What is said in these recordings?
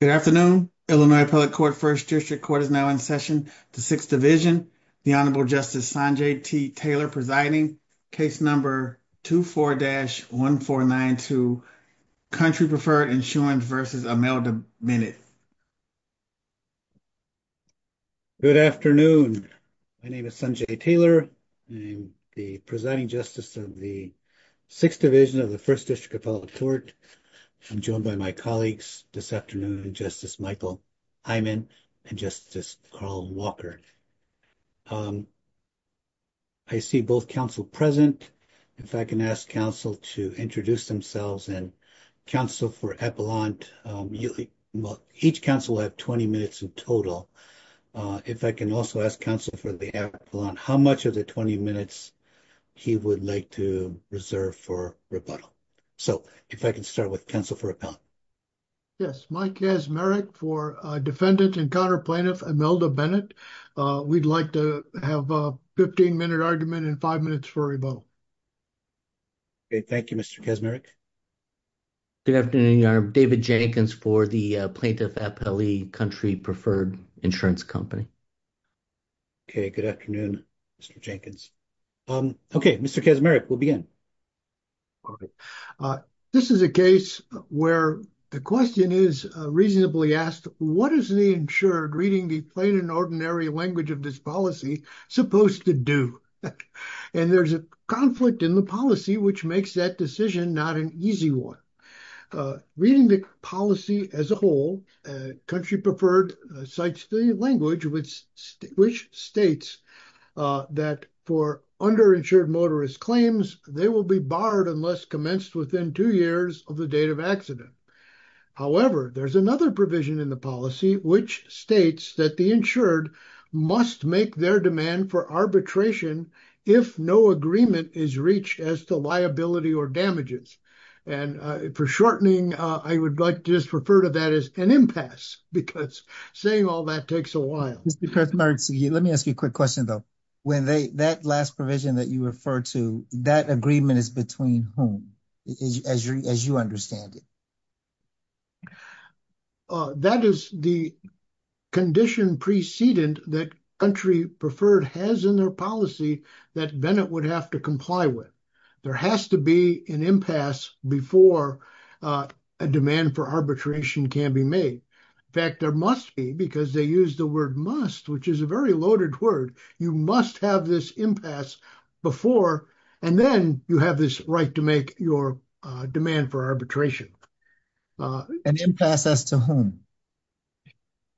Good afternoon, Illinois Appellate Court, 1st District Court is now in session, the 6th Division, the Honorable Justice Sanjay T. Taylor presiding, case number 24-1492, Country Preferred Insurance v. Imelda Bennett. Good afternoon, my name is Sanjay Taylor, I'm the presiding justice of the 6th Division of the 1st District Appellate Court. I'm joined by my colleagues this afternoon, Justice Michael Hyman and Justice Carl Walker. I see both counsel present, if I can ask counsel to introduce themselves and counsel for appellant, each counsel will have 20 minutes in total. If I can also ask counsel for the appellant, how much of the 20 minutes he would like to reserve for rebuttal. So, if I can start with counsel for appellant. Yes, Mike Kaczmarek for defendant and counter plaintiff Imelda Bennett. We'd like to have a 15 minute argument and 5 minutes for rebuttal. Thank you, Mr. Kaczmarek. Good afternoon, Your Honor, David Jenkins for the plaintiff appellee, Country Preferred Insurance Company. Okay, good afternoon, Mr. Jenkins. Okay, Mr. Kaczmarek, we'll begin. This is a case where the question is reasonably asked, what is the insured reading the plain and ordinary language of this policy supposed to do? And there's a conflict in the policy which makes that decision not an easy one. Reading the policy as a whole, Country Preferred cites the language which states that for underinsured motorist claims, they will be barred unless commenced within two years of the date of accident. However, there's another provision in the policy which states that the insured must make their demand for arbitration if no agreement is reached as to liability or damages. And for shortening, I would like to just refer to that as an impasse because saying all that takes a while. Mr. Kaczmarek, let me ask you a quick question, though. When that last provision that you referred to, that agreement is between whom, as you understand it? That is the condition preceded that Country Preferred has in their policy that Bennett would have to comply with. There has to be an impasse before a demand for arbitration can be made. In fact, there must be because they use the word must, which is a very loaded word. You must have this impasse before and then you have this right to make your demand for arbitration. An impasse as to whom?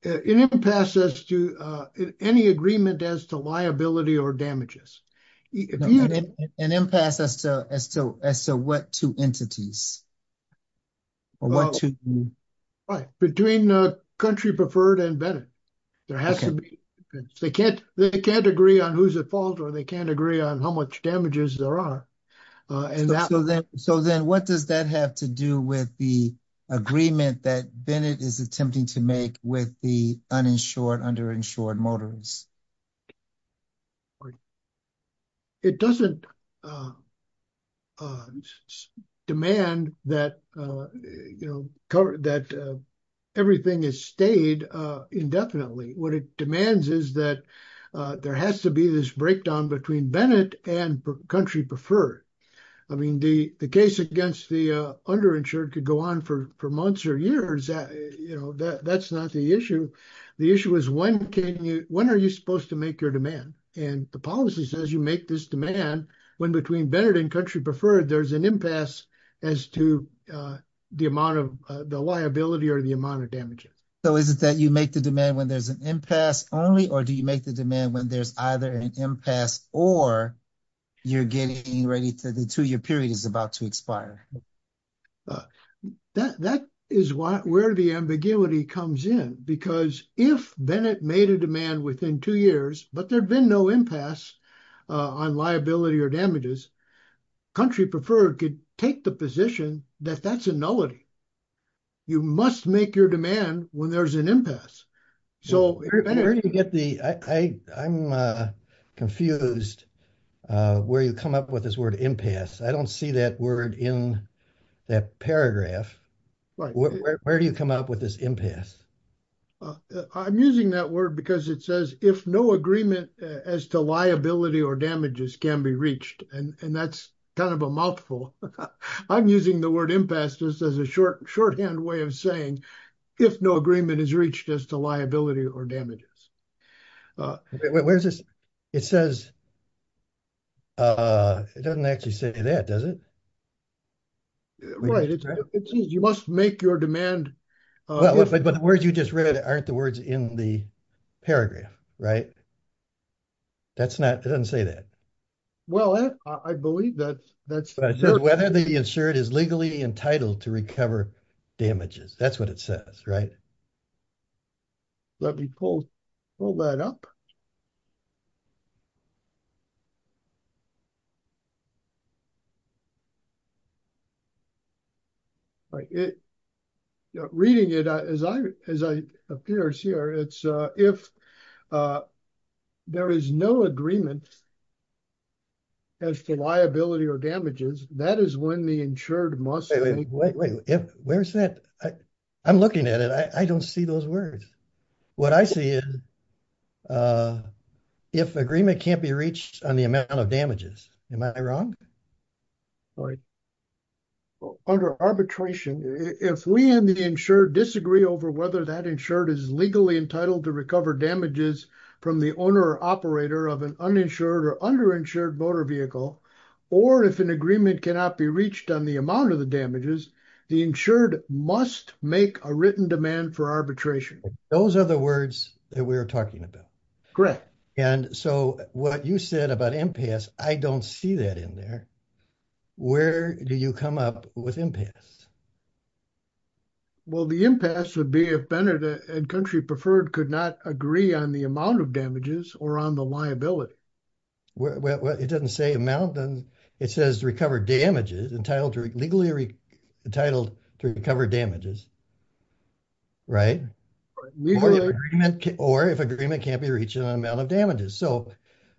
An impasse as to any agreement as to liability or damages. An impasse as to what two entities? Between Country Preferred and Bennett. They can't agree on who's at fault or they can't agree on how much damages there are. So then what does that have to do with the agreement that Bennett is attempting to make with the uninsured, underinsured motorists? It doesn't demand that everything is stayed indefinitely. What it demands is that there has to be this breakdown between Bennett and Country Preferred. The case against the underinsured could go on for months or years. That's not the issue. The issue is when are you supposed to make your demand? And the policy says you make this demand when between Bennett and Country Preferred there's an impasse as to the amount of the liability or the amount of damages. So is it that you make the demand when there's an impasse only or do you make the demand when there's either an impasse or you're getting ready to the two year period is about to expire? That is where the ambiguity comes in, because if Bennett made a demand within two years, but there'd been no impasse on liability or damages, Country Preferred could take the position that that's a nullity. You must make your demand when there's an impasse. I'm confused where you come up with this word impasse. I don't see that word in that paragraph. Where do you come up with this impasse? I'm using that word because it says if no agreement as to liability or damages can be reached. And that's kind of a mouthful. I'm using the word impasse as a shorthand way of saying, if no agreement is reached as to liability or damages. Where's this? It says. It doesn't actually say that, does it? You must make your demand. But the words you just read aren't the words in the paragraph, right? That's not, it doesn't say that. Well, I believe that's. Whether the insured is legally entitled to recover damages. That's what it says, right? Let me pull that up. All right. Reading it as I appears here, it's if there is no agreement as to liability or damages, that is when the insured must. Wait, where's that? I'm looking at it. I don't see those words. What I see is. If agreement can't be reached on the amount of damages. Am I wrong? Sorry. Under arbitration, if we have the insured disagree over whether that insured is legally entitled to recover damages from the owner operator of an uninsured or underinsured motor vehicle, or if an agreement cannot be reached on the amount of the damages, the insured must make a written demand for arbitration. Those are the words that we're talking about. And so what you said about impasse, I don't see that in there. Where do you come up with impasse? Well, the impasse would be a benefit and country preferred could not agree on the amount of damages or on the liability. It doesn't say amount and it says recover damages entitled to legally entitled to recover damages. Or if agreement can't be reached on an amount of damages. So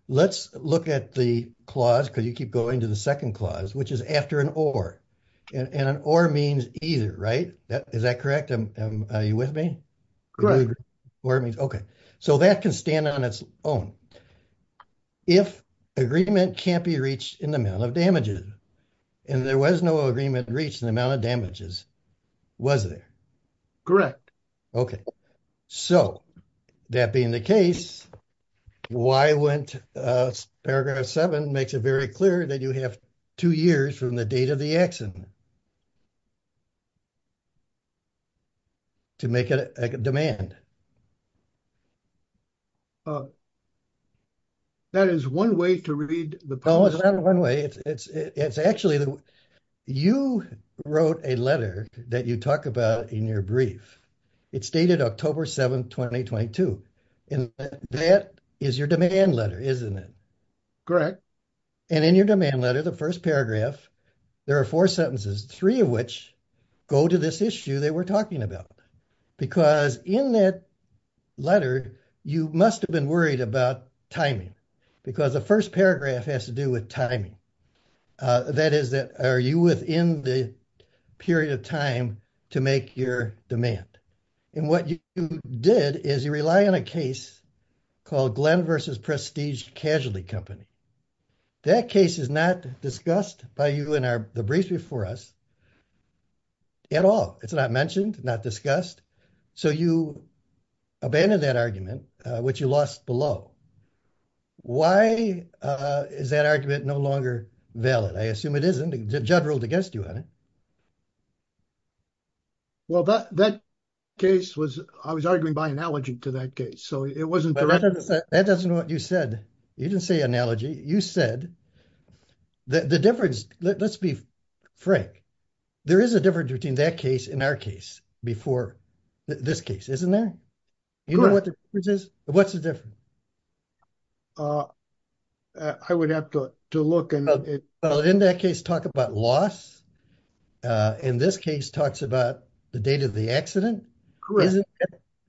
let's look at the clause because you keep going to the 2nd clause, which is after an or and an or means either. Right. Is that correct? Are you with me? Okay, so that can stand on its own. If agreement can't be reached in the amount of damages, and there was no agreement reached in the amount of damages. Was there correct? Okay. So that being the case, why went paragraph 7 makes it very clear that you have 2 years from the date of the accident. To make it a demand. That is 1 way to read the 1 way it's, it's, it's actually the you wrote a letter that you talk about in your brief. It stated October 7, 2022. And that is your demand letter. Isn't it. Correct. And in your demand letter, the 1st paragraph, there are 4 sentences, 3 of which go to this issue that we're talking about. Because in that letter, you must have been worried about timing because the 1st paragraph has to do with timing. That is that are you within the period of time to make your demand. And what you did is you rely on a case called Glenn versus prestige casualty company. That case is not discussed by you in the brief before us. At all. It's not mentioned not discussed. So you abandoned that argument, which you lost below. Why is that argument no longer valid? I assume it isn't general against you on it. Well, that that case was, I was arguing by analogy to that case. So it wasn't that doesn't know what you said. You didn't say analogy. You said. The difference, let's be frank. There is a difference between that case in our case before this case. Isn't there. You know what the difference is. What's the difference. I would have to look and in that case, talk about loss. In this case, talks about the date of the accident.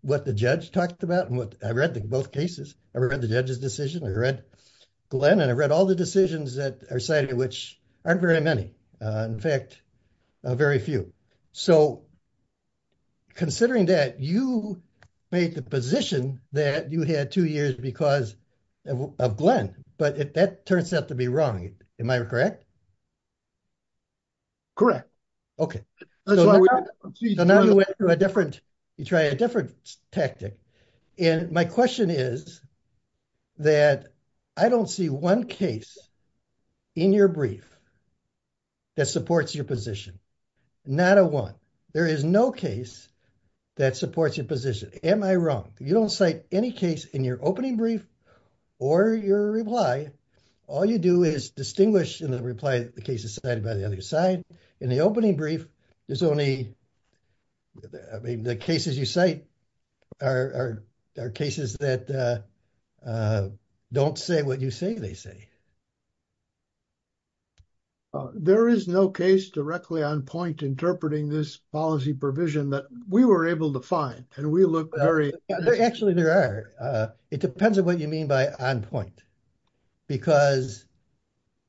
What the judge talked about and what I read both cases. I read the judge's decision. I read Glenn and I read all the decisions that are cited, which aren't very many. In fact, very few. So, considering that you made the position that you had 2 years because of Glenn, but if that turns out to be wrong. Am I correct. Correct. Okay. A different you try a different tactic. And my question is that I don't see 1 case in your brief. That supports your position, not a 1. There is no case that supports your position. Am I wrong? You don't say any case in your opening brief. Or your reply. All you do is distinguish in the reply. The case is cited by the other side in the opening brief. There's only. I mean, the cases you say are are cases that don't say what you say they say. There is no case directly on point interpreting this policy provision that we were able to find and we look very actually there are. It depends on what you mean by on point, because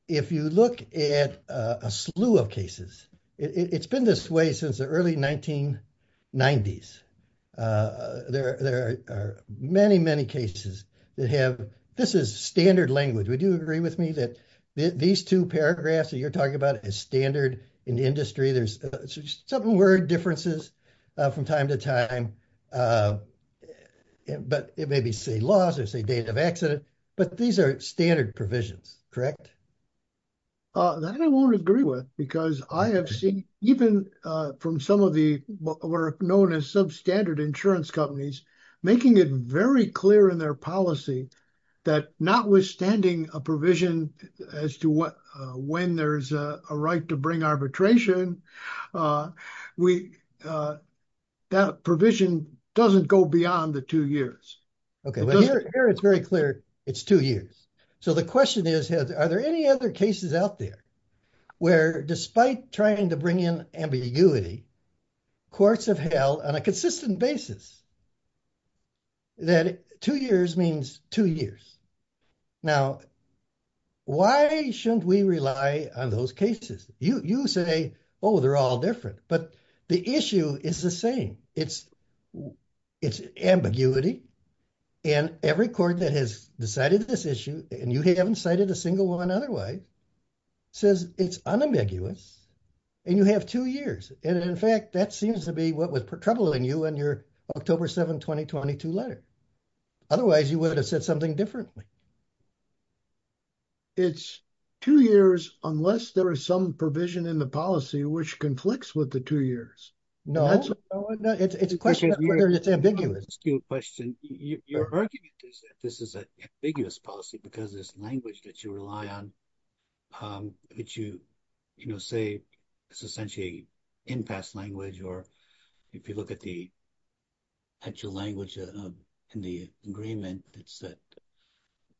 if you look at a slew of cases, it's been this way since the early 1990s. There are many, many cases that have this is standard language. Would you agree with me that these 2 paragraphs that you're talking about is standard in the industry. There's something word differences from time to time. But it may be say laws or say date of accident, but these are standard provisions. Correct. That I won't agree with because I have seen even from some of the work known as substandard insurance companies, making it very clear in their policy. That notwithstanding a provision as to what when there's a right to bring arbitration. We That provision doesn't go beyond the two years. Okay, well, here it's very clear. It's two years. So the question is, are there any other cases out there where despite trying to bring in ambiguity courts have held on a consistent basis. That two years means two years now. Now, why shouldn't we rely on those cases you say, oh, they're all different, but the issue is the same. It's it's ambiguity. And every court that has decided this issue and you haven't cited a single one. Otherwise, says it's unambiguous and you have two years. And in fact, that seems to be what was troubling you and your October 7 2022 letter. Otherwise, you would have said something differently. It's two years, unless there is some provision in the policy which conflicts with the two years. It's a question. It's ambiguous. Still question. This is a big US policy because this language that you rely on. That you, you know, say it's essentially in past language or if you look at the Actual language in the agreement. It's that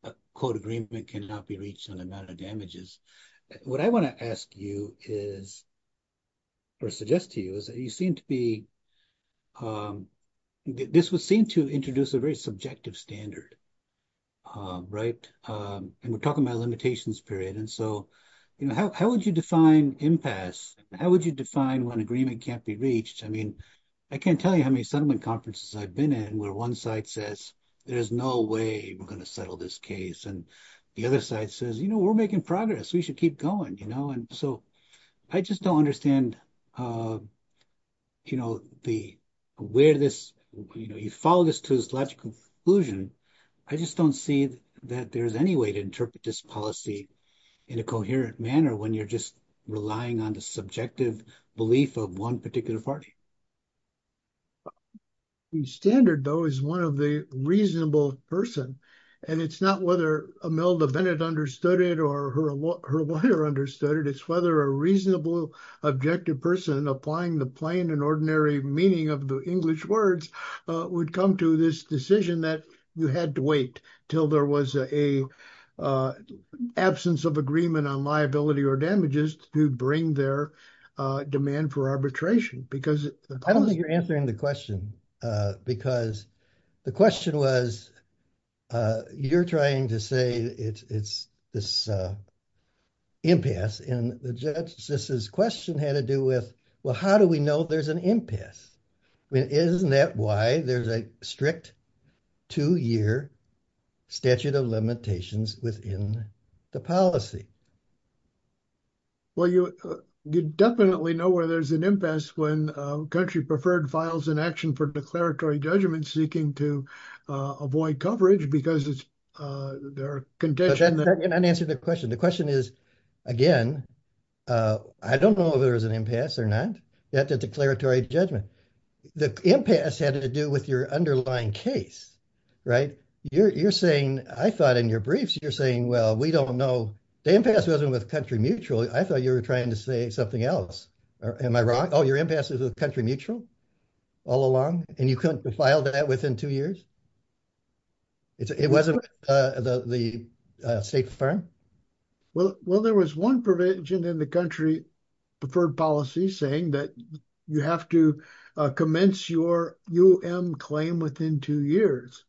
a code agreement cannot be reached on the amount of damages. What I want to ask you is, or suggest to you is that you seem to be This was seen to introduce a very subjective standard. Right, and we're talking about limitations period. And so, you know, how would you define impasse? How would you define when agreement can't be reached? I mean, I can't tell you how many settlement conferences. I've been in where one side says there's no way we're going to settle this case and the other side says, you know, we're making progress. We should keep going, you know, and so I just don't understand. You know, the where this, you know, you follow this to this logical conclusion. I just don't see that there's any way to interpret this policy in a coherent manner when you're just relying on the subjective belief of one particular party. The standard, though, is one of the reasonable person and it's not whether Imelda Bennett understood it or her lawyer understood it. It's whether a reasonable objective person applying the plain and ordinary meaning of the English words would come to this decision that you had to wait till there was a absence of agreement on liability or damages to bring their demand for arbitration because I don't think you're answering the question, because the question was, you're trying to say it's this impasse and the judge's question had to do with, well, how do we know there's an impasse? I mean, isn't that why there's a strict two-year statute of limitations within the policy? Well, you definitely know where there's an impasse when country preferred files in action for declaratory judgment seeking to avoid coverage because it's their condition. You're not answering the question. The question is, again, I don't know if there's an impasse or not. That's a declaratory judgment. The impasse had to do with your underlying case, right? You're saying, I thought in your briefs, you're saying, well, we don't know. The impasse wasn't with country mutual. I thought you were trying to say something else. Am I wrong? Oh, your impasse is with country mutual all along and you couldn't file that within two years? It wasn't the state firm? Well, there was one provision in the country preferred policy saying that you have to commence your UM claim within two years,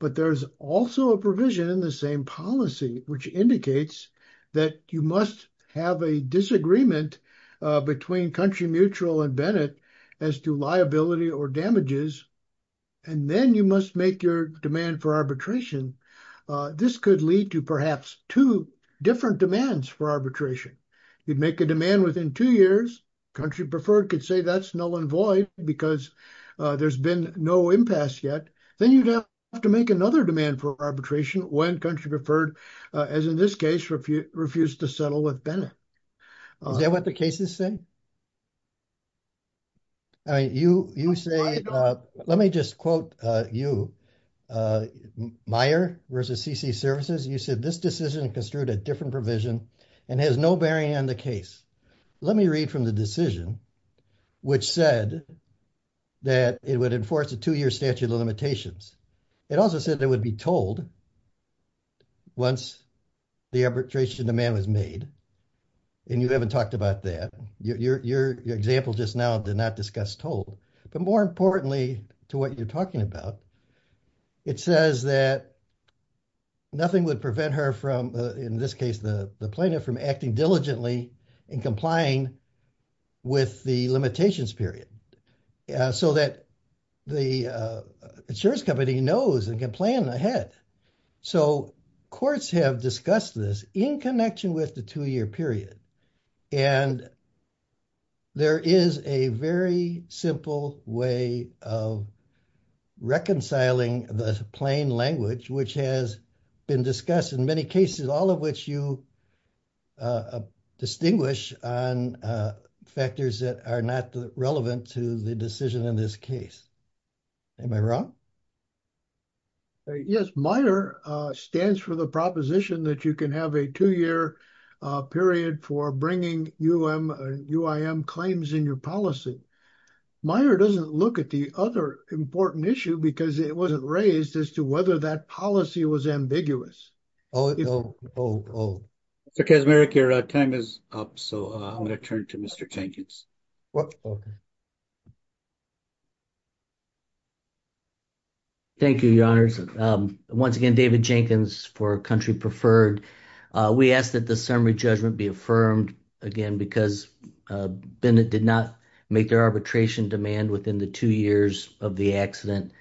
but there's also a provision in the same policy, which indicates that you must have a disagreement between country mutual and Bennett as to liability or damages, and then you must make your demand for arbitration. This could lead to perhaps two different demands for arbitration. You'd make a demand within two years. Country preferred could say that's null and void because there's been no impasse yet. Then you'd have to make another demand for arbitration when country preferred, as in this case, refused to settle with Bennett. Is that what the cases say? I mean, you say, let me just quote you, Meijer versus CC services. You said this decision construed a different provision and has no bearing on the case. Let me read from the decision, which said that it would enforce a two year statute of limitations. It also said that it would be told once the arbitration demand was made. And you haven't talked about that. Your example just now did not discuss told. But more importantly to what you're talking about, it says that nothing would prevent her from, in this case, the plaintiff, from acting diligently and complying with the limitations period. So that the insurance company knows and can plan ahead. So courts have discussed this in connection with the two year period. And there is a very simple way of reconciling the plain language, which has been discussed in many cases, all of which you. Distinguish on factors that are not relevant to the decision in this case. Am I wrong? Yes, Meijer stands for the proposition that you can have a two year period for bringing UIM claims in your policy. Meijer doesn't look at the other important issue because it wasn't raised as to whether that policy was ambiguous. Oh, oh, oh, oh, because America time is up. So I'm going to turn to Mr. Jenkins. What? Thank you, your honors. Once again, David Jenkins for country preferred. We ask that the summary judgment be affirmed again because Bennett did not make their arbitration demand within the two years of the accident.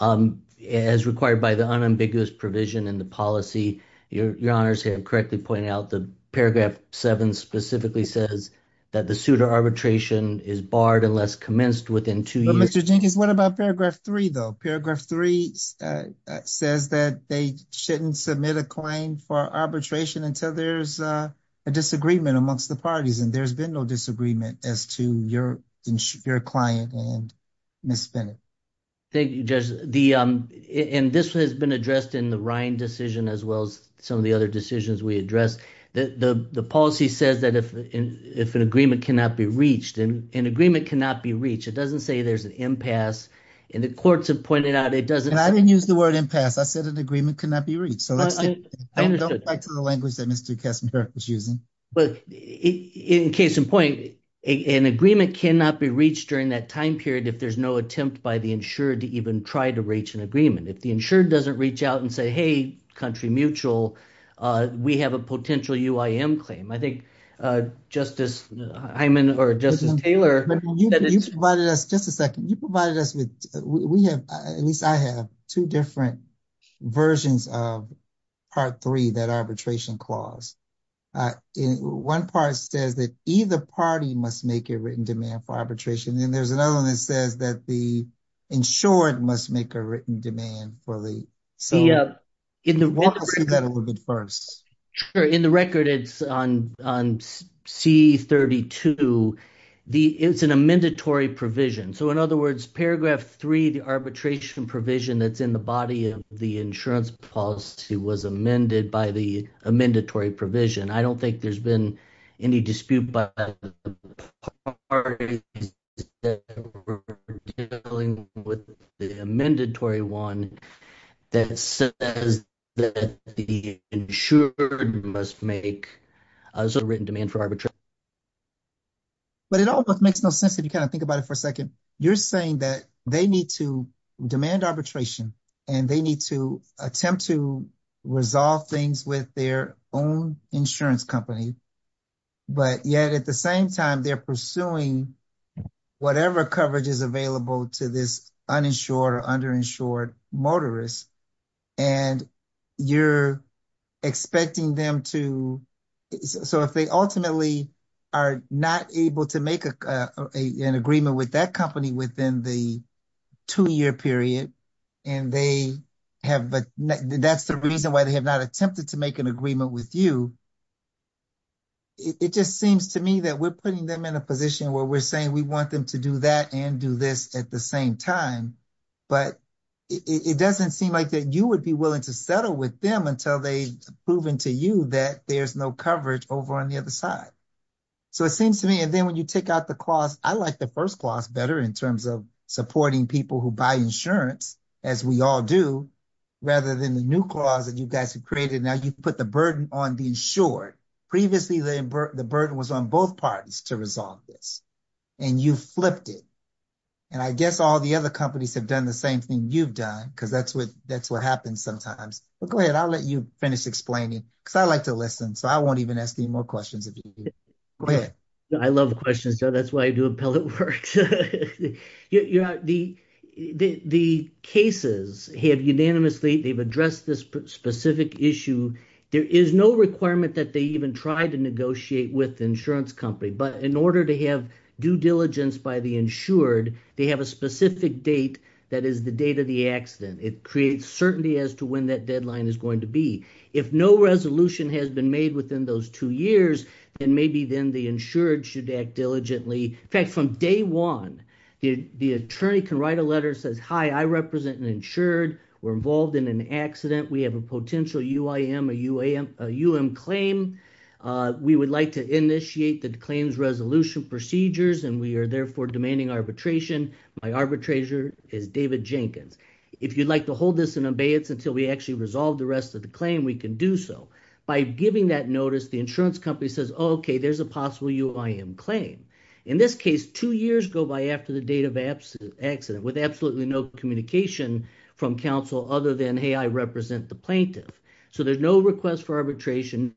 As required by the unambiguous provision in the policy, your honors have correctly pointed out the paragraph 7 specifically says that the suitor arbitration is barred unless commenced within two years. Mr. Jenkins, what about paragraph 3, though? Paragraph 3 says that they shouldn't submit a claim for arbitration until there's a disagreement amongst the parties. And there's been no disagreement as to your client and miss Bennett. Thank you, Judge. The and this has been addressed in the Ryan decision as well as some of the other decisions we address that the policy says that if if an agreement cannot be reached and an agreement cannot be reached, it doesn't say there's an impasse in the courts have pointed out. It doesn't I didn't use the word impasse. I said an agreement cannot be reached. So let's go back to the language that Mr. Kessler was using. But in case in point, an agreement cannot be reached during that time period if there's no attempt by the insured to even try to reach an agreement, if the insured doesn't reach out and say, hey, country mutual, we have a potential UIM claim. I think Justice Hyman or Justice Taylor provided us just a second. You provided us with we have at least I have two different versions of part three that arbitration clause in one part says that either party must make a written demand for arbitration. And there's another one that says that the insured must make a written demand for the. So, yeah, in the world, I'll see that a little bit first in the record. It's on on C32. The it's an amendatory provision. So, in other words, paragraph three, the arbitration provision that's in the body of the insurance policy was amended by the amendatory provision. I don't think there's been any dispute by the parties that were dealing with the amendatory one that says that the insured must make a written demand for arbitration. But it all makes no sense if you kind of think about it for a 2nd, you're saying that they need to demand arbitration and they need to attempt to resolve things with their own insurance company. But yet, at the same time, they're pursuing whatever coverage is available to this uninsured underinsured motorist. And you're expecting them to. So, if they ultimately are not able to make an agreement with that company within the. 2 year period, and they have, but that's the reason why they have not attempted to make an agreement with you. It just seems to me that we're putting them in a position where we're saying we want them to do that and do this at the same time. But it doesn't seem like that you would be willing to settle with them until they proven to you that there's no coverage over on the other side. So, it seems to me, and then when you take out the cost, I like the 1st class better in terms of supporting people who buy insurance as we all do. Rather than the new clause that you guys have created now, you put the burden on the short. Previously, the burden was on both parties to resolve this. And you flipped it and I guess all the other companies have done the same thing you've done because that's what that's what happens sometimes. Well, go ahead. I'll let you finish explaining because I like to listen. So I won't even ask any more questions. Go ahead. I love the question. So that's why I do appellate works. The cases have unanimously they've addressed this specific issue. There is no requirement that they even tried to negotiate with the insurance company. But in order to have due diligence by the insured, they have a specific date. That is the date of the accident. It creates certainty as to when that deadline is going to be. If no resolution has been made within those 2 years, then maybe then the insured should act diligently. In fact, from day 1, the attorney can write a letter that says, hi, I represent an insured. We're involved in an accident. We have a potential UIM or UM claim. We would like to initiate the claims resolution procedures and we are therefore demanding arbitration. My arbitrator is David Jenkins. If you'd like to hold this in abeyance until we actually resolve the rest of the claim, we can do so. By giving that notice, the insurance company says, OK, there's a possible UIM claim. In this case, 2 years go by after the date of accident with absolutely no communication from counsel other than, hey, I represent the plaintiff. So there's no request for arbitration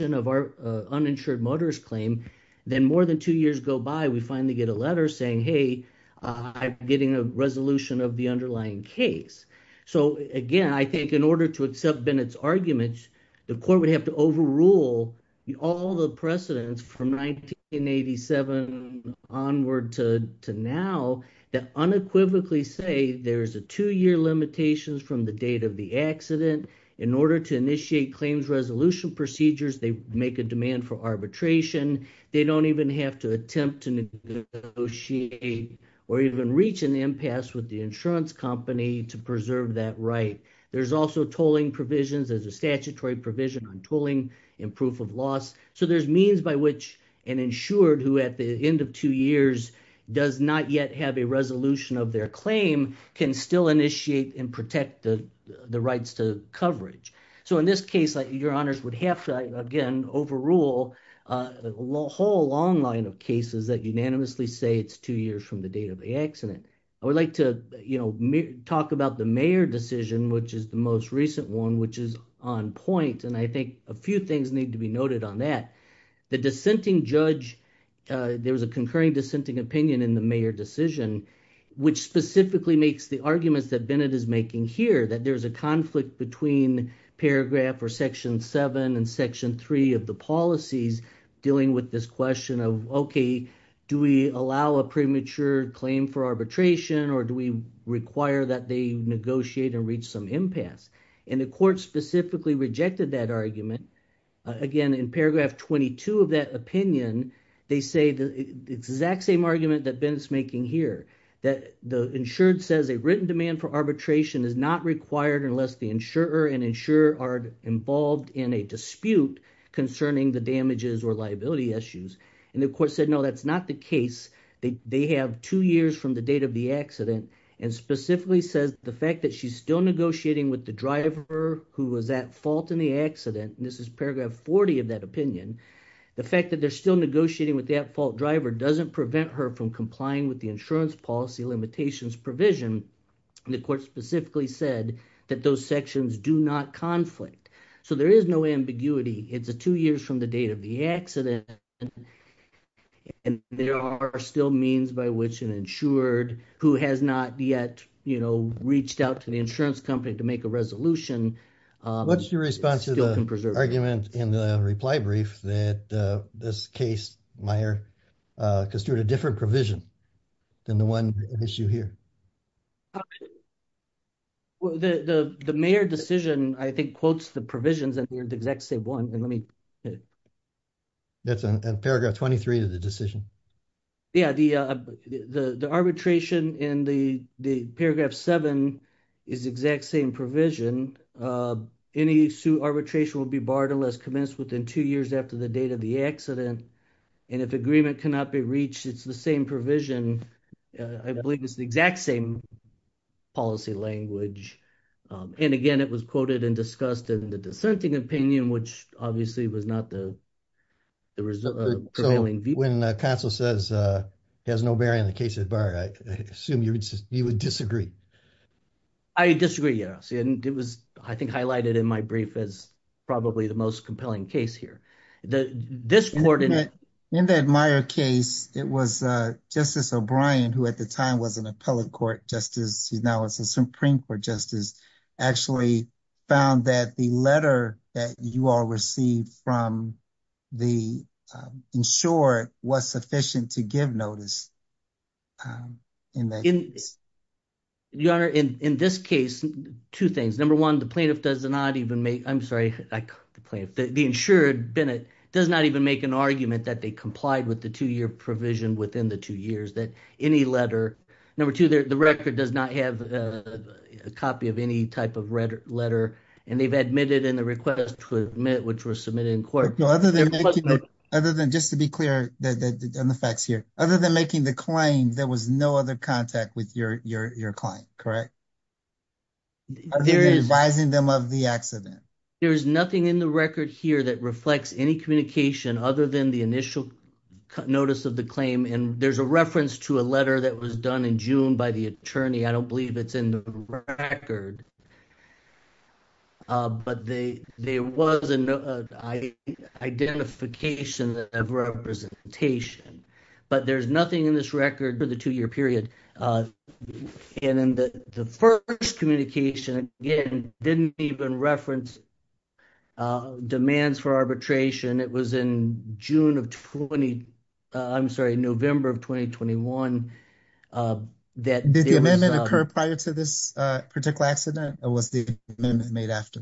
of our uninsured motorist claim. Then more than 2 years go by, we finally get a letter saying, hey, I'm getting a resolution of the underlying case. So again, I think in order to accept Bennett's arguments, the court would have to overrule all the precedents from 1987 onward to now that unequivocally say there's a 2 year limitations from the date of the accident. In order to initiate claims resolution procedures, they make a demand for arbitration. They don't even have to attempt to negotiate or even reach an impasse with the insurance company to preserve that right. There's also tolling provisions as a statutory provision on tolling and proof of loss. So there's means by which an insured who at the end of 2 years does not yet have a resolution of their claim can still initiate and protect the rights to coverage. So in this case, your honors would have to, again, overrule a whole long line of cases that unanimously say it's 2 years from the date of the accident. I would like to talk about the mayor decision, which is the most recent one, which is on point. And I think a few things need to be noted on that. The dissenting judge, there was a concurring dissenting opinion in the mayor decision, which specifically makes the arguments that Bennett is making here. That there's a conflict between paragraph or section 7 and section 3 of the policies dealing with this question of, okay, do we allow a premature claim for arbitration or do we require that they negotiate and reach some impasse? And the court specifically rejected that argument. Again, in paragraph 22 of that opinion, they say the exact same argument that Bennett's making here. That the insured says a written demand for arbitration is not required unless the insurer and insurer are involved in a dispute concerning the damages or liability issues. And the court said, no, that's not the case. They have 2 years from the date of the accident and specifically says the fact that she's still negotiating with the driver who was at fault in the accident. And this is paragraph 40 of that opinion. The fact that they're still negotiating with that fault driver doesn't prevent her from complying with the insurance policy limitations provision. And the court specifically said that those sections do not conflict. So there is no ambiguity. It's a 2 years from the date of the accident. And there are still means by which an insured who has not yet, you know, reached out to the insurance company to make a resolution. What's your response to the argument in the reply brief that this case, Meyer, construed a different provision than the one issue here? Well, the mayor decision, I think quotes the provisions and the exact same one. And let me. That's a paragraph 23 to the decision. Yeah, the arbitration in the paragraph 7 is exact same provision. Any suit arbitration will be barred unless commenced within 2 years after the date of the accident. And if agreement cannot be reached, it's the same provision. I believe it's the exact same policy language. And again, it was quoted and discussed in the dissenting opinion, which obviously was not the. The result when the council says has no bearing on the case, I assume you would disagree. I disagree. Yeah. And it was, I think, highlighted in my brief is probably the most compelling case here. In that Meyer case, it was Justice O'Brien, who at the time was an appellate court justice. Now it's a Supreme Court justice actually found that the letter that you all received from the insurer was sufficient to give notice. In your honor, in this case, 2 things, number 1, the plaintiff does not even make I'm sorry. The insured Bennett does not even make an argument that they complied with the 2 year provision within the 2 years that any letter number 2, the record does not have a copy of any type of red letter. And they've admitted in the request to admit, which was submitted in court. Other than just to be clear on the facts here, other than making the claim, there was no other contact with your client, correct? There is advising them of the accident. There is nothing in the record here that reflects any communication other than the initial notice of the claim. And there's a reference to a letter that was done in June by the attorney. I don't believe it's in the record. But there was an identification of representation. But there's nothing in this record for the 2 year period. And in the first communication, again, didn't even reference demands for arbitration. It was in June of 20, I'm sorry, November of 2021. Did the amendment occur prior to this particular accident or was the amendment made after?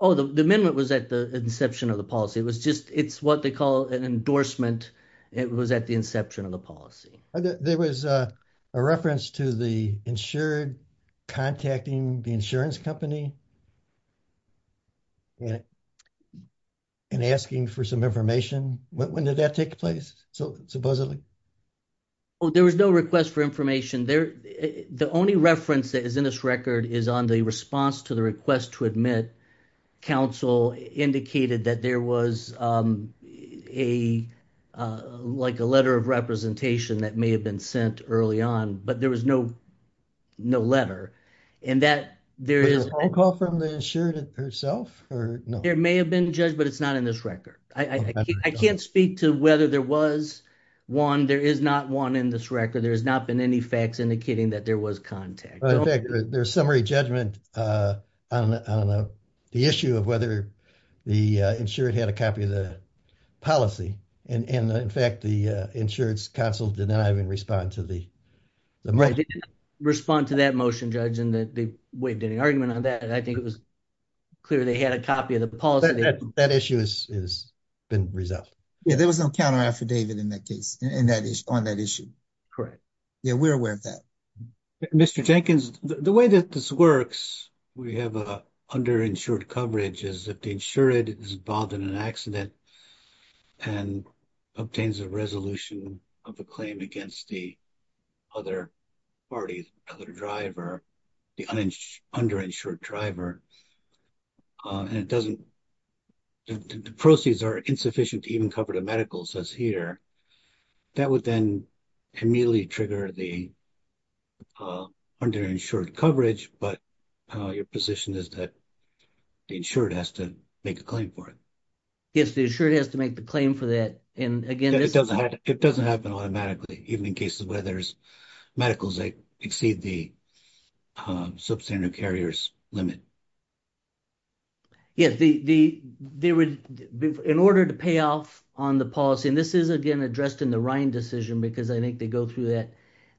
Oh, the amendment was at the inception of the policy. It was just it's what they call an endorsement. It was at the inception of the policy. There was a reference to the insured contacting the insurance company. And asking for some information. When did that take place? Supposedly. Oh, there was no request for information there. The only reference that is in this record is on the response to the request to admit. Council indicated that there was a, like a letter of representation that may have been sent early on, but there was no. No letter and that there is a call from the insured herself or no, there may have been judged, but it's not in this record. I can't speak to whether there was 1. there is not 1 in this record. There has not been any facts indicating that there was contact. There's summary judgment on the issue of whether the insured had a copy of the policy. And in fact, the insurance council did not even respond to the. Respond to that motion judge, and they waved any argument on that. And I think it was. Clear they had a copy of the policy that issue is. Been resolved. Yeah, there was no counter affidavit in that case and that is on that issue. Correct. Yeah, we're aware of that. Mr. Jenkins, the way that this works. We have a underinsured coverage is that the insured is bothered an accident. And obtains a resolution of a claim against the. Other parties other driver. The underinsured driver, and it doesn't. The proceeds are insufficient to even cover the medical says here. That would then immediately trigger the. Underinsured coverage, but your position is that. The insured has to make a claim for it. If the shirt has to make the claim for that, and again, it doesn't it doesn't happen automatically, even in cases where there's medicals, they exceed the. Substantive carriers limit. Yes, the, the, there would be in order to pay off on the policy and this is again addressed in the Ryan decision, because I think they go through that.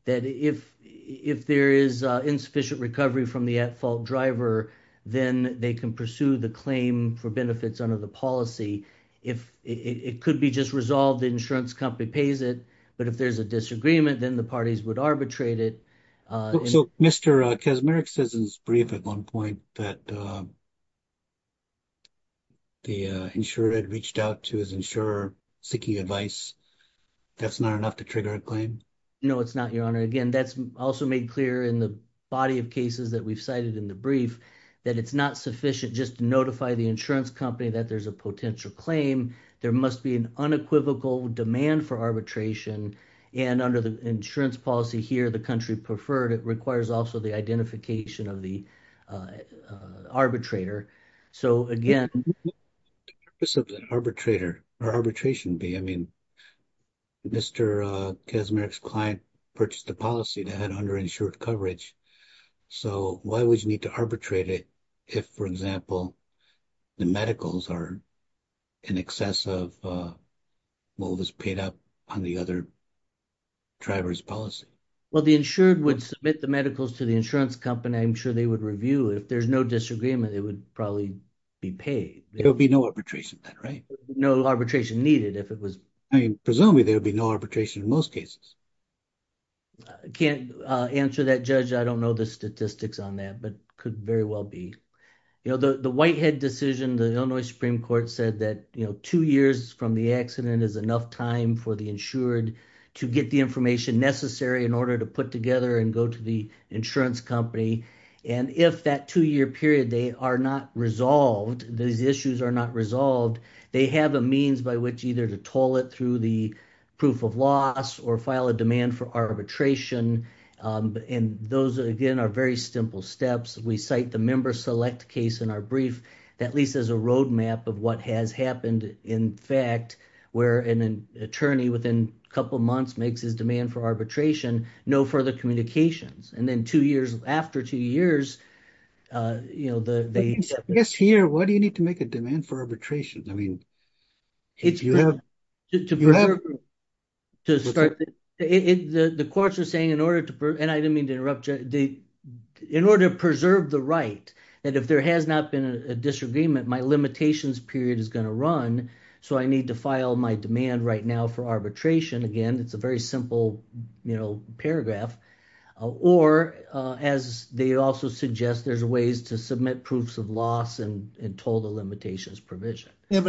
That if, if there is insufficient recovery from the at fault driver. Then they can pursue the claim for benefits under the policy. If it could be just resolved insurance company pays it. But if there's a disagreement, then the parties would arbitrate it. Uh, so Mr. Because Merrick says in his brief at 1 point that. The insurer had reached out to his insurer seeking advice. That's not enough to trigger a claim. No, it's not your honor again. That's also made clear in the body of cases that we've cited in the brief. That it's not sufficient just to notify the insurance company that there's a potential claim. There must be an unequivocal demand for arbitration. And under the insurance policy here, the country preferred it requires also the identification of the arbitrator. So, again, arbitrator arbitration be, I mean. Merrick's client purchased the policy that had underinsured coverage. So, why would you need to arbitrate it? If, for example. The medicals are in excess of. What was paid up on the other drivers policy. Well, the insured would submit the medicals to the insurance company. I'm sure they would review if there's no disagreement, they would probably. There'll be no arbitration that right? No arbitration needed if it was. I mean, presumably there'll be no arbitration in most cases. I can't answer that judge. I don't know the statistics on that, but could very well be. You know, the white head decision, the Illinois Supreme Court said that 2 years from the accident is enough time for the insured. To get the information necessary in order to put together and go to the insurance company. And if that 2 year period, they are not resolved, these issues are not resolved. They have a means by which either to toll it through the proof of loss or file a demand for arbitration. And those again are very simple steps. We cite the member select case in our brief. At least as a roadmap of what has happened. In fact, where an attorney within a couple of months makes his demand for arbitration, no further communications. And then 2 years after 2 years, you know, the. Yes, here, what do you need to make a demand for arbitration? I mean. To start the courts are saying in order to and I didn't mean to interrupt the in order to preserve the right. And if there has not been a disagreement, my limitations period is going to run. So I need to file my demand right now for arbitration. Again, it's a very simple paragraph. Or as they also suggest, there's ways to submit proofs of loss and told the limitations provision. It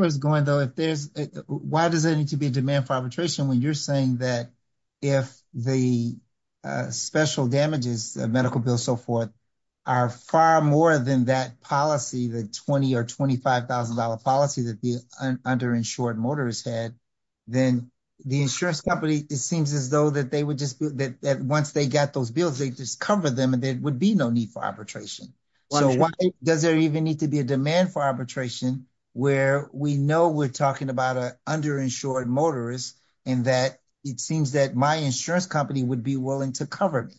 was going, though, if there's why does it need to be a demand for arbitration? When you're saying that. If the special damages medical bill, so forth. Are far more than that policy, the 20 or 25,000 dollar policy that the underinsured motorist had. Then the insurance company, it seems as though that they would just that once they got those bills, they just cover them and there would be no need for arbitration. Does there even need to be a demand for arbitration where we know we're talking about an underinsured motorist and that it seems that my insurance company would be willing to cover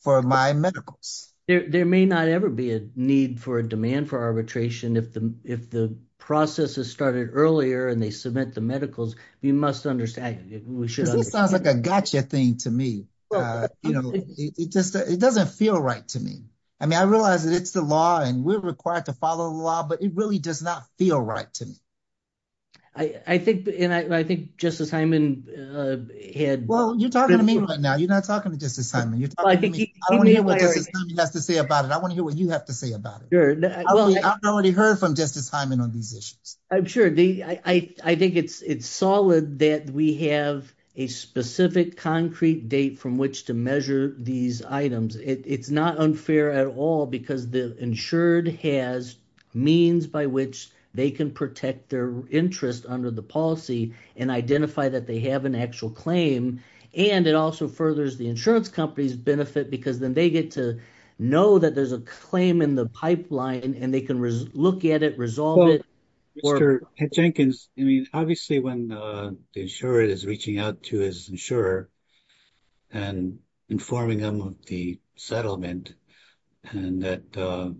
for my medicals. There may not ever be a need for a demand for arbitration. If the if the process has started earlier and they submit the medicals, you must understand. It sounds like I got your thing to me. It just it doesn't feel right to me. I mean, I realize that it's the law and we're required to follow the law, but it really does not feel right to me. I think and I think Justice Hyman had. Well, you're talking to me right now. You're not talking to this assignment. I think I want to hear what you have to say about it. I want to hear what you have to say about it. I've already heard from Justice Hyman on these issues. I'm sure the I think it's it's solid that we have a specific concrete date from which to measure these items. It's not unfair at all, because the insured has means by which they can protect their interest under the policy and identify that they have an actual claim. And it also furthers the insurance companies benefit because then they get to know that there's a claim in the pipeline and they can look at it, resolve it. Jenkins, I mean, obviously, when the insurer is reaching out to his insurer and informing them of the settlement and that.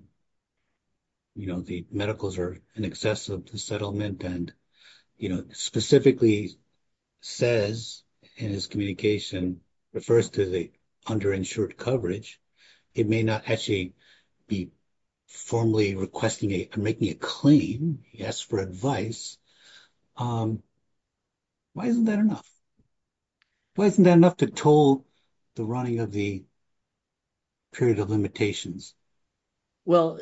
You know, the medicals are in excess of the settlement and, you know, specifically. Says in his communication refers to the underinsured coverage. It may not actually be formally requesting a making a claim. Yes, for advice. Why isn't that enough? Wasn't that enough to toll the running of the period of limitations? Well,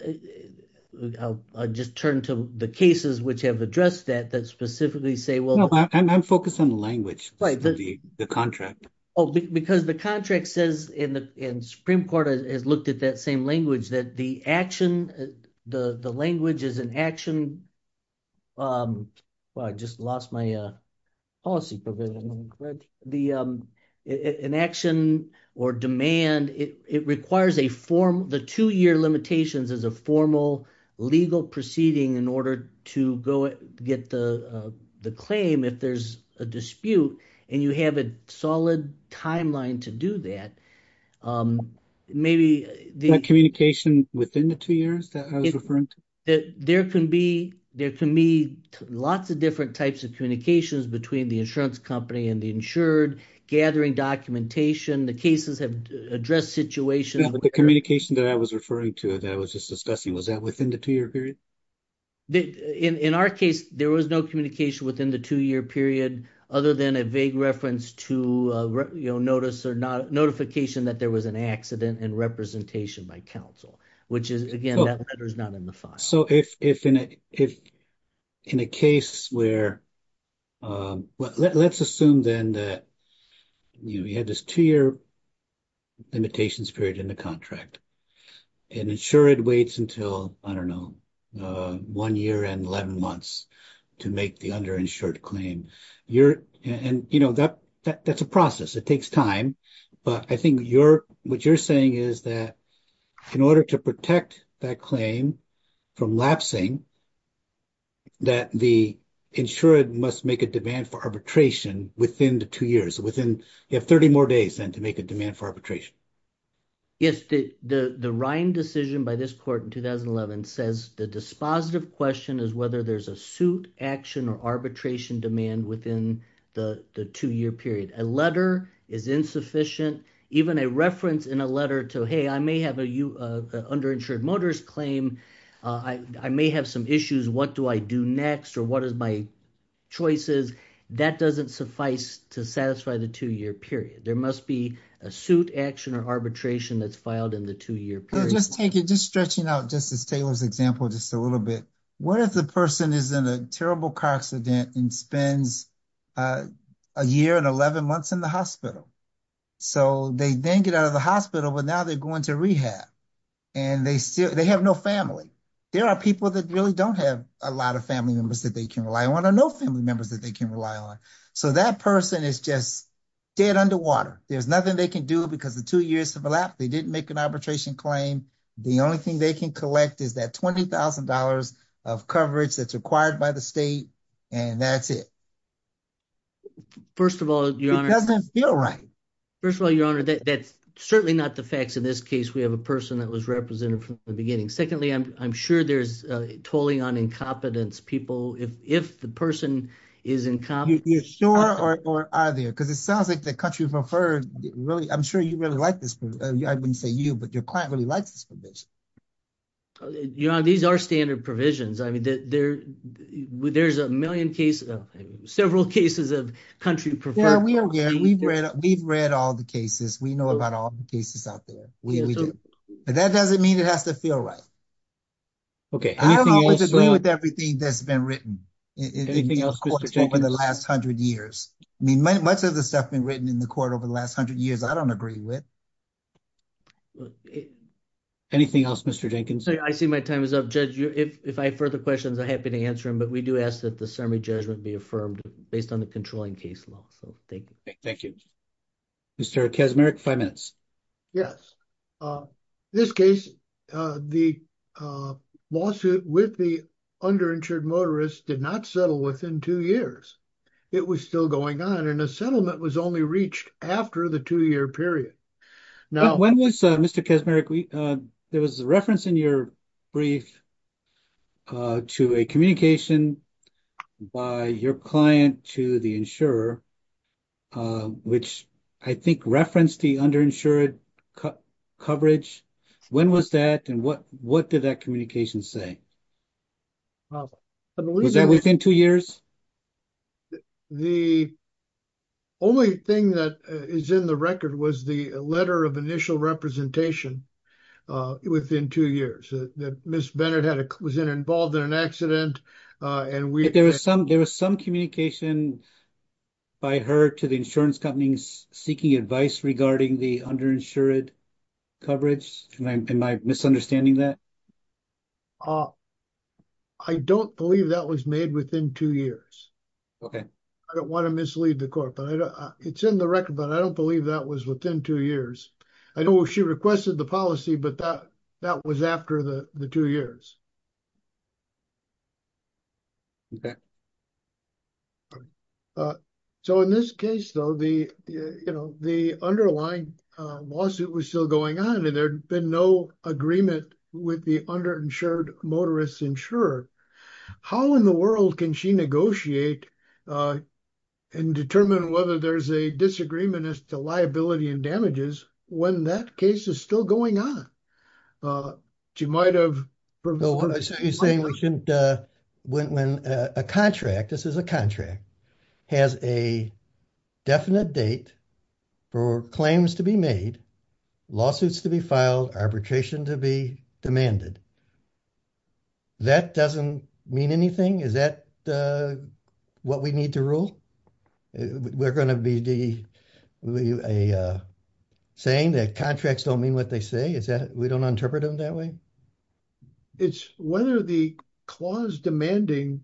I'll just turn to the cases which have addressed that that specifically say, well, I'm focused on the language, the contract. Oh, because the contract says in the Supreme Court has looked at that same language that the action, the language is an action. Well, I just lost my policy. The inaction or demand it requires a form the 2 year limitations as a formal legal proceeding in order to go get the claim if there's a dispute and you have a solid timeline to do that. Maybe the communication within the 2 years that I was referring to. There can be there can be lots of different types of communications between the insurance company and the insured gathering documentation. The cases have addressed situation, but the communication that I was referring to that I was just discussing was that within the 2 year period. In our case, there was no communication within the 2 year period other than a vague reference to notice or not notification that there was an accident and representation by counsel, which is again. So, if in a, if in a case where let's assume then that you had this 2 year. Limitations period in the contract and ensure it waits until I don't know, 1 year and 11 months to make the underinsured claim. And, you know, that that's a process. It takes time. But I think you're what you're saying is that in order to protect that claim from lapsing. That the insured must make a demand for arbitration within the 2 years within you have 30 more days and to make a demand for arbitration. If the Ryan decision by this court in 2011 says the dispositive question is whether there's a suit action or arbitration demand within the 2 year period, a letter is insufficient. Even a reference in a letter to, hey, I may have a you underinsured motors claim. I may have some issues. What do I do next? Or what is my. That doesn't suffice to satisfy the 2 year period. There must be a suit action or arbitration that's filed in the 2 year period. Just take it. Just stretching out. Just as Taylor's example, just a little bit. What if the person is in a terrible car accident and spends a year and 11 months in the hospital? So, they then get out of the hospital, but now they're going to rehab. And they still they have no family. There are people that really don't have a lot of family members that they can rely on. I know family members that they can rely on. So that person is just. Dead underwater, there's nothing they can do because the 2 years have left. They didn't make an arbitration claim. The only thing they can collect is that 20,000 dollars of coverage that's required by the state. And that's it. 1st of all, your honor doesn't feel right. 1st of all, your honor, that's certainly not the facts in this case. We have a person that was represented from the beginning. Secondly, I'm sure there's a tolling on incompetence people. If if the person is incompetent, you're sure or are there? Because it sounds like the country preferred. Really? I'm sure you really like this. I wouldn't say you, but your client really likes this. You know, these are standard provisions. I mean, there there's a million cases, several cases of country. We've read. We've read all the cases. We know about all the cases out there. But that doesn't mean it has to feel right. Okay, everything that's been written in the last 100 years. I mean, much of the stuff been written in the court over the last 100 years. I don't agree with. Anything else Mr. Jenkins, I see my time is up judge. If I further questions, I'm happy to answer him, but we do ask that the summary judgment be affirmed based on the controlling case law. So, thank you. Thank you. Mr. 5 minutes. Yes. This case, the lawsuit with the underinsured motorists did not settle within 2 years. It was still going on and a settlement was only reached after the 2 year period. Now, when was Mr. Kazmierek, there was a reference in your brief to a communication by your client to the insurer, which I think referenced the underinsured coverage. When was that? And what, what did that communication say? I believe that within 2 years. The only thing that is in the record was the letter of initial representation within 2 years that Miss Bennett had was involved in an accident. And we, there was some, there was some communication. By her to the insurance companies, seeking advice regarding the underinsured. I don't believe that was made within 2 years. Okay, I don't want to mislead the court, but it's in the record, but I don't believe that was within 2 years. I know she requested the policy, but that that was after the 2 years. Okay. So, in this case, though, the, you know, the underlying lawsuit was still going on and there'd been no agreement with the underinsured motorists insurer. How in the world can she negotiate and determine whether there's a disagreement as to liability and damages when that case is still going on? She might have. When a contract, this is a contract has a definite date. For claims to be made lawsuits to be filed arbitration to be demanded. That doesn't mean anything. Is that what we need to rule? We're going to be saying that contracts don't mean what they say is that we don't interpret them that way. It's whether the clause demanding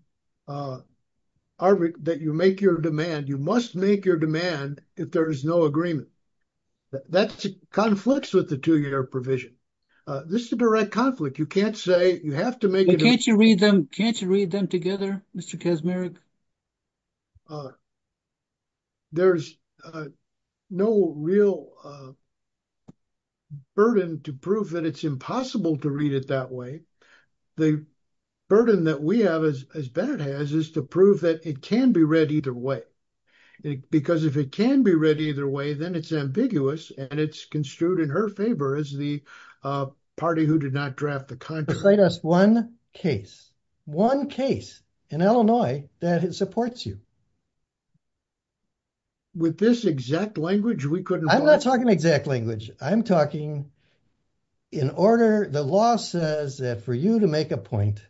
that you make your demand, you must make your demand. If there is no agreement. That conflicts with the 2 year provision. This is a direct conflict. You can't say you have to make it. Can't you read them? Can't you read them together? Mr. There's no real. Burden to prove that it's impossible to read it that way. The burden that we have is as bad as is to prove that it can be read either way. Because if it can be read either way, then it's ambiguous and it's construed in her favor as the party who did not draft the contract. With this exact language, we couldn't. I'm not talking exact language. I'm talking. In order, the law says that for you to make a point.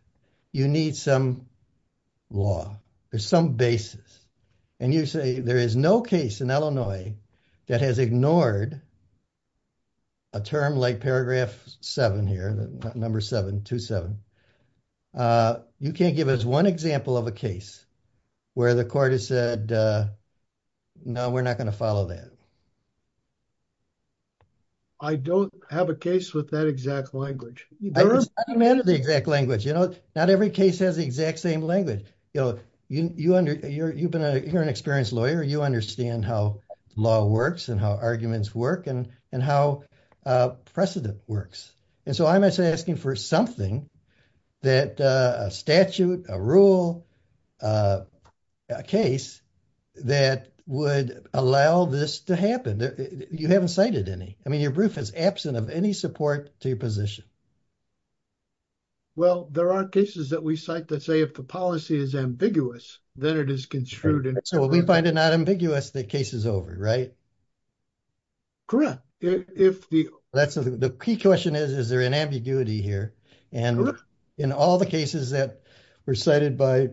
You need some law. There's some basis. And you say there is no case in Illinois that has ignored. A term like paragraph 7 here, number 727. You can't give us 1 example of a case where the court has said. No, we're not going to follow that. I don't have a case with that exact language. The exact language, you know, not every case has the exact same language. You know, you, you, you've been a, you're an experienced lawyer. You understand how. Law works and how arguments work and and how precedent works. And so I'm asking for something that a statute, a rule. A case that would allow this to happen. You haven't cited any. I mean, your brief is absent of any support to your position. Well, there are cases that we cite that say, if the policy is ambiguous, then it is construed. And so we find it not ambiguous that case is over. Right. Correct. If the that's the key question is, is there an ambiguity here and in all the cases that were cited by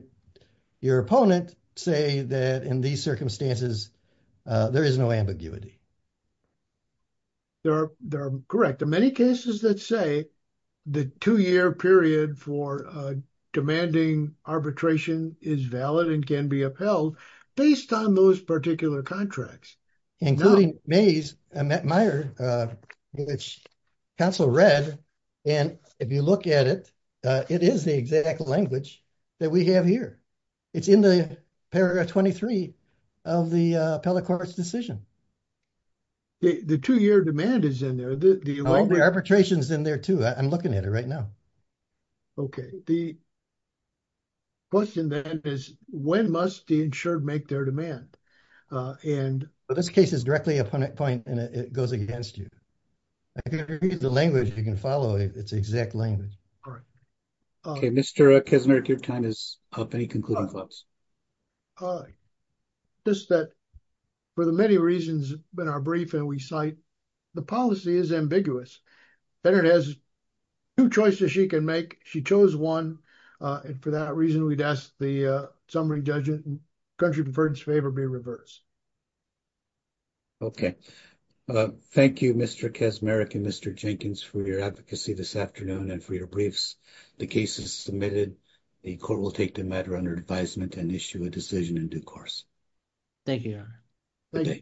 your opponent say that in these circumstances, there is no ambiguity. There are correct in many cases that say the 2 year period for demanding arbitration is valid and can be upheld based on those particular contracts. Okay. The 2 year demand is in there. The arbitration is in there too. I'm looking at it right now. Okay. The. Question then is when must the insured make their demand. This case is directly upon a point and it goes against you. The language you can follow it. It's exact language. All right. Mr. Kisner, your time is up. Any concluding thoughts. All right. This that for the many reasons, but our brief and we cite the policy is ambiguous. And it has 2 choices she can make. She chose 1. And for that reason, we'd ask the summary judgment. Okay. Thank you. Mr. Jenkins for your advocacy this afternoon and for your briefs, the case is submitted. The court will take the matter under advisement and issue a decision in due course. Thank you. Thank you.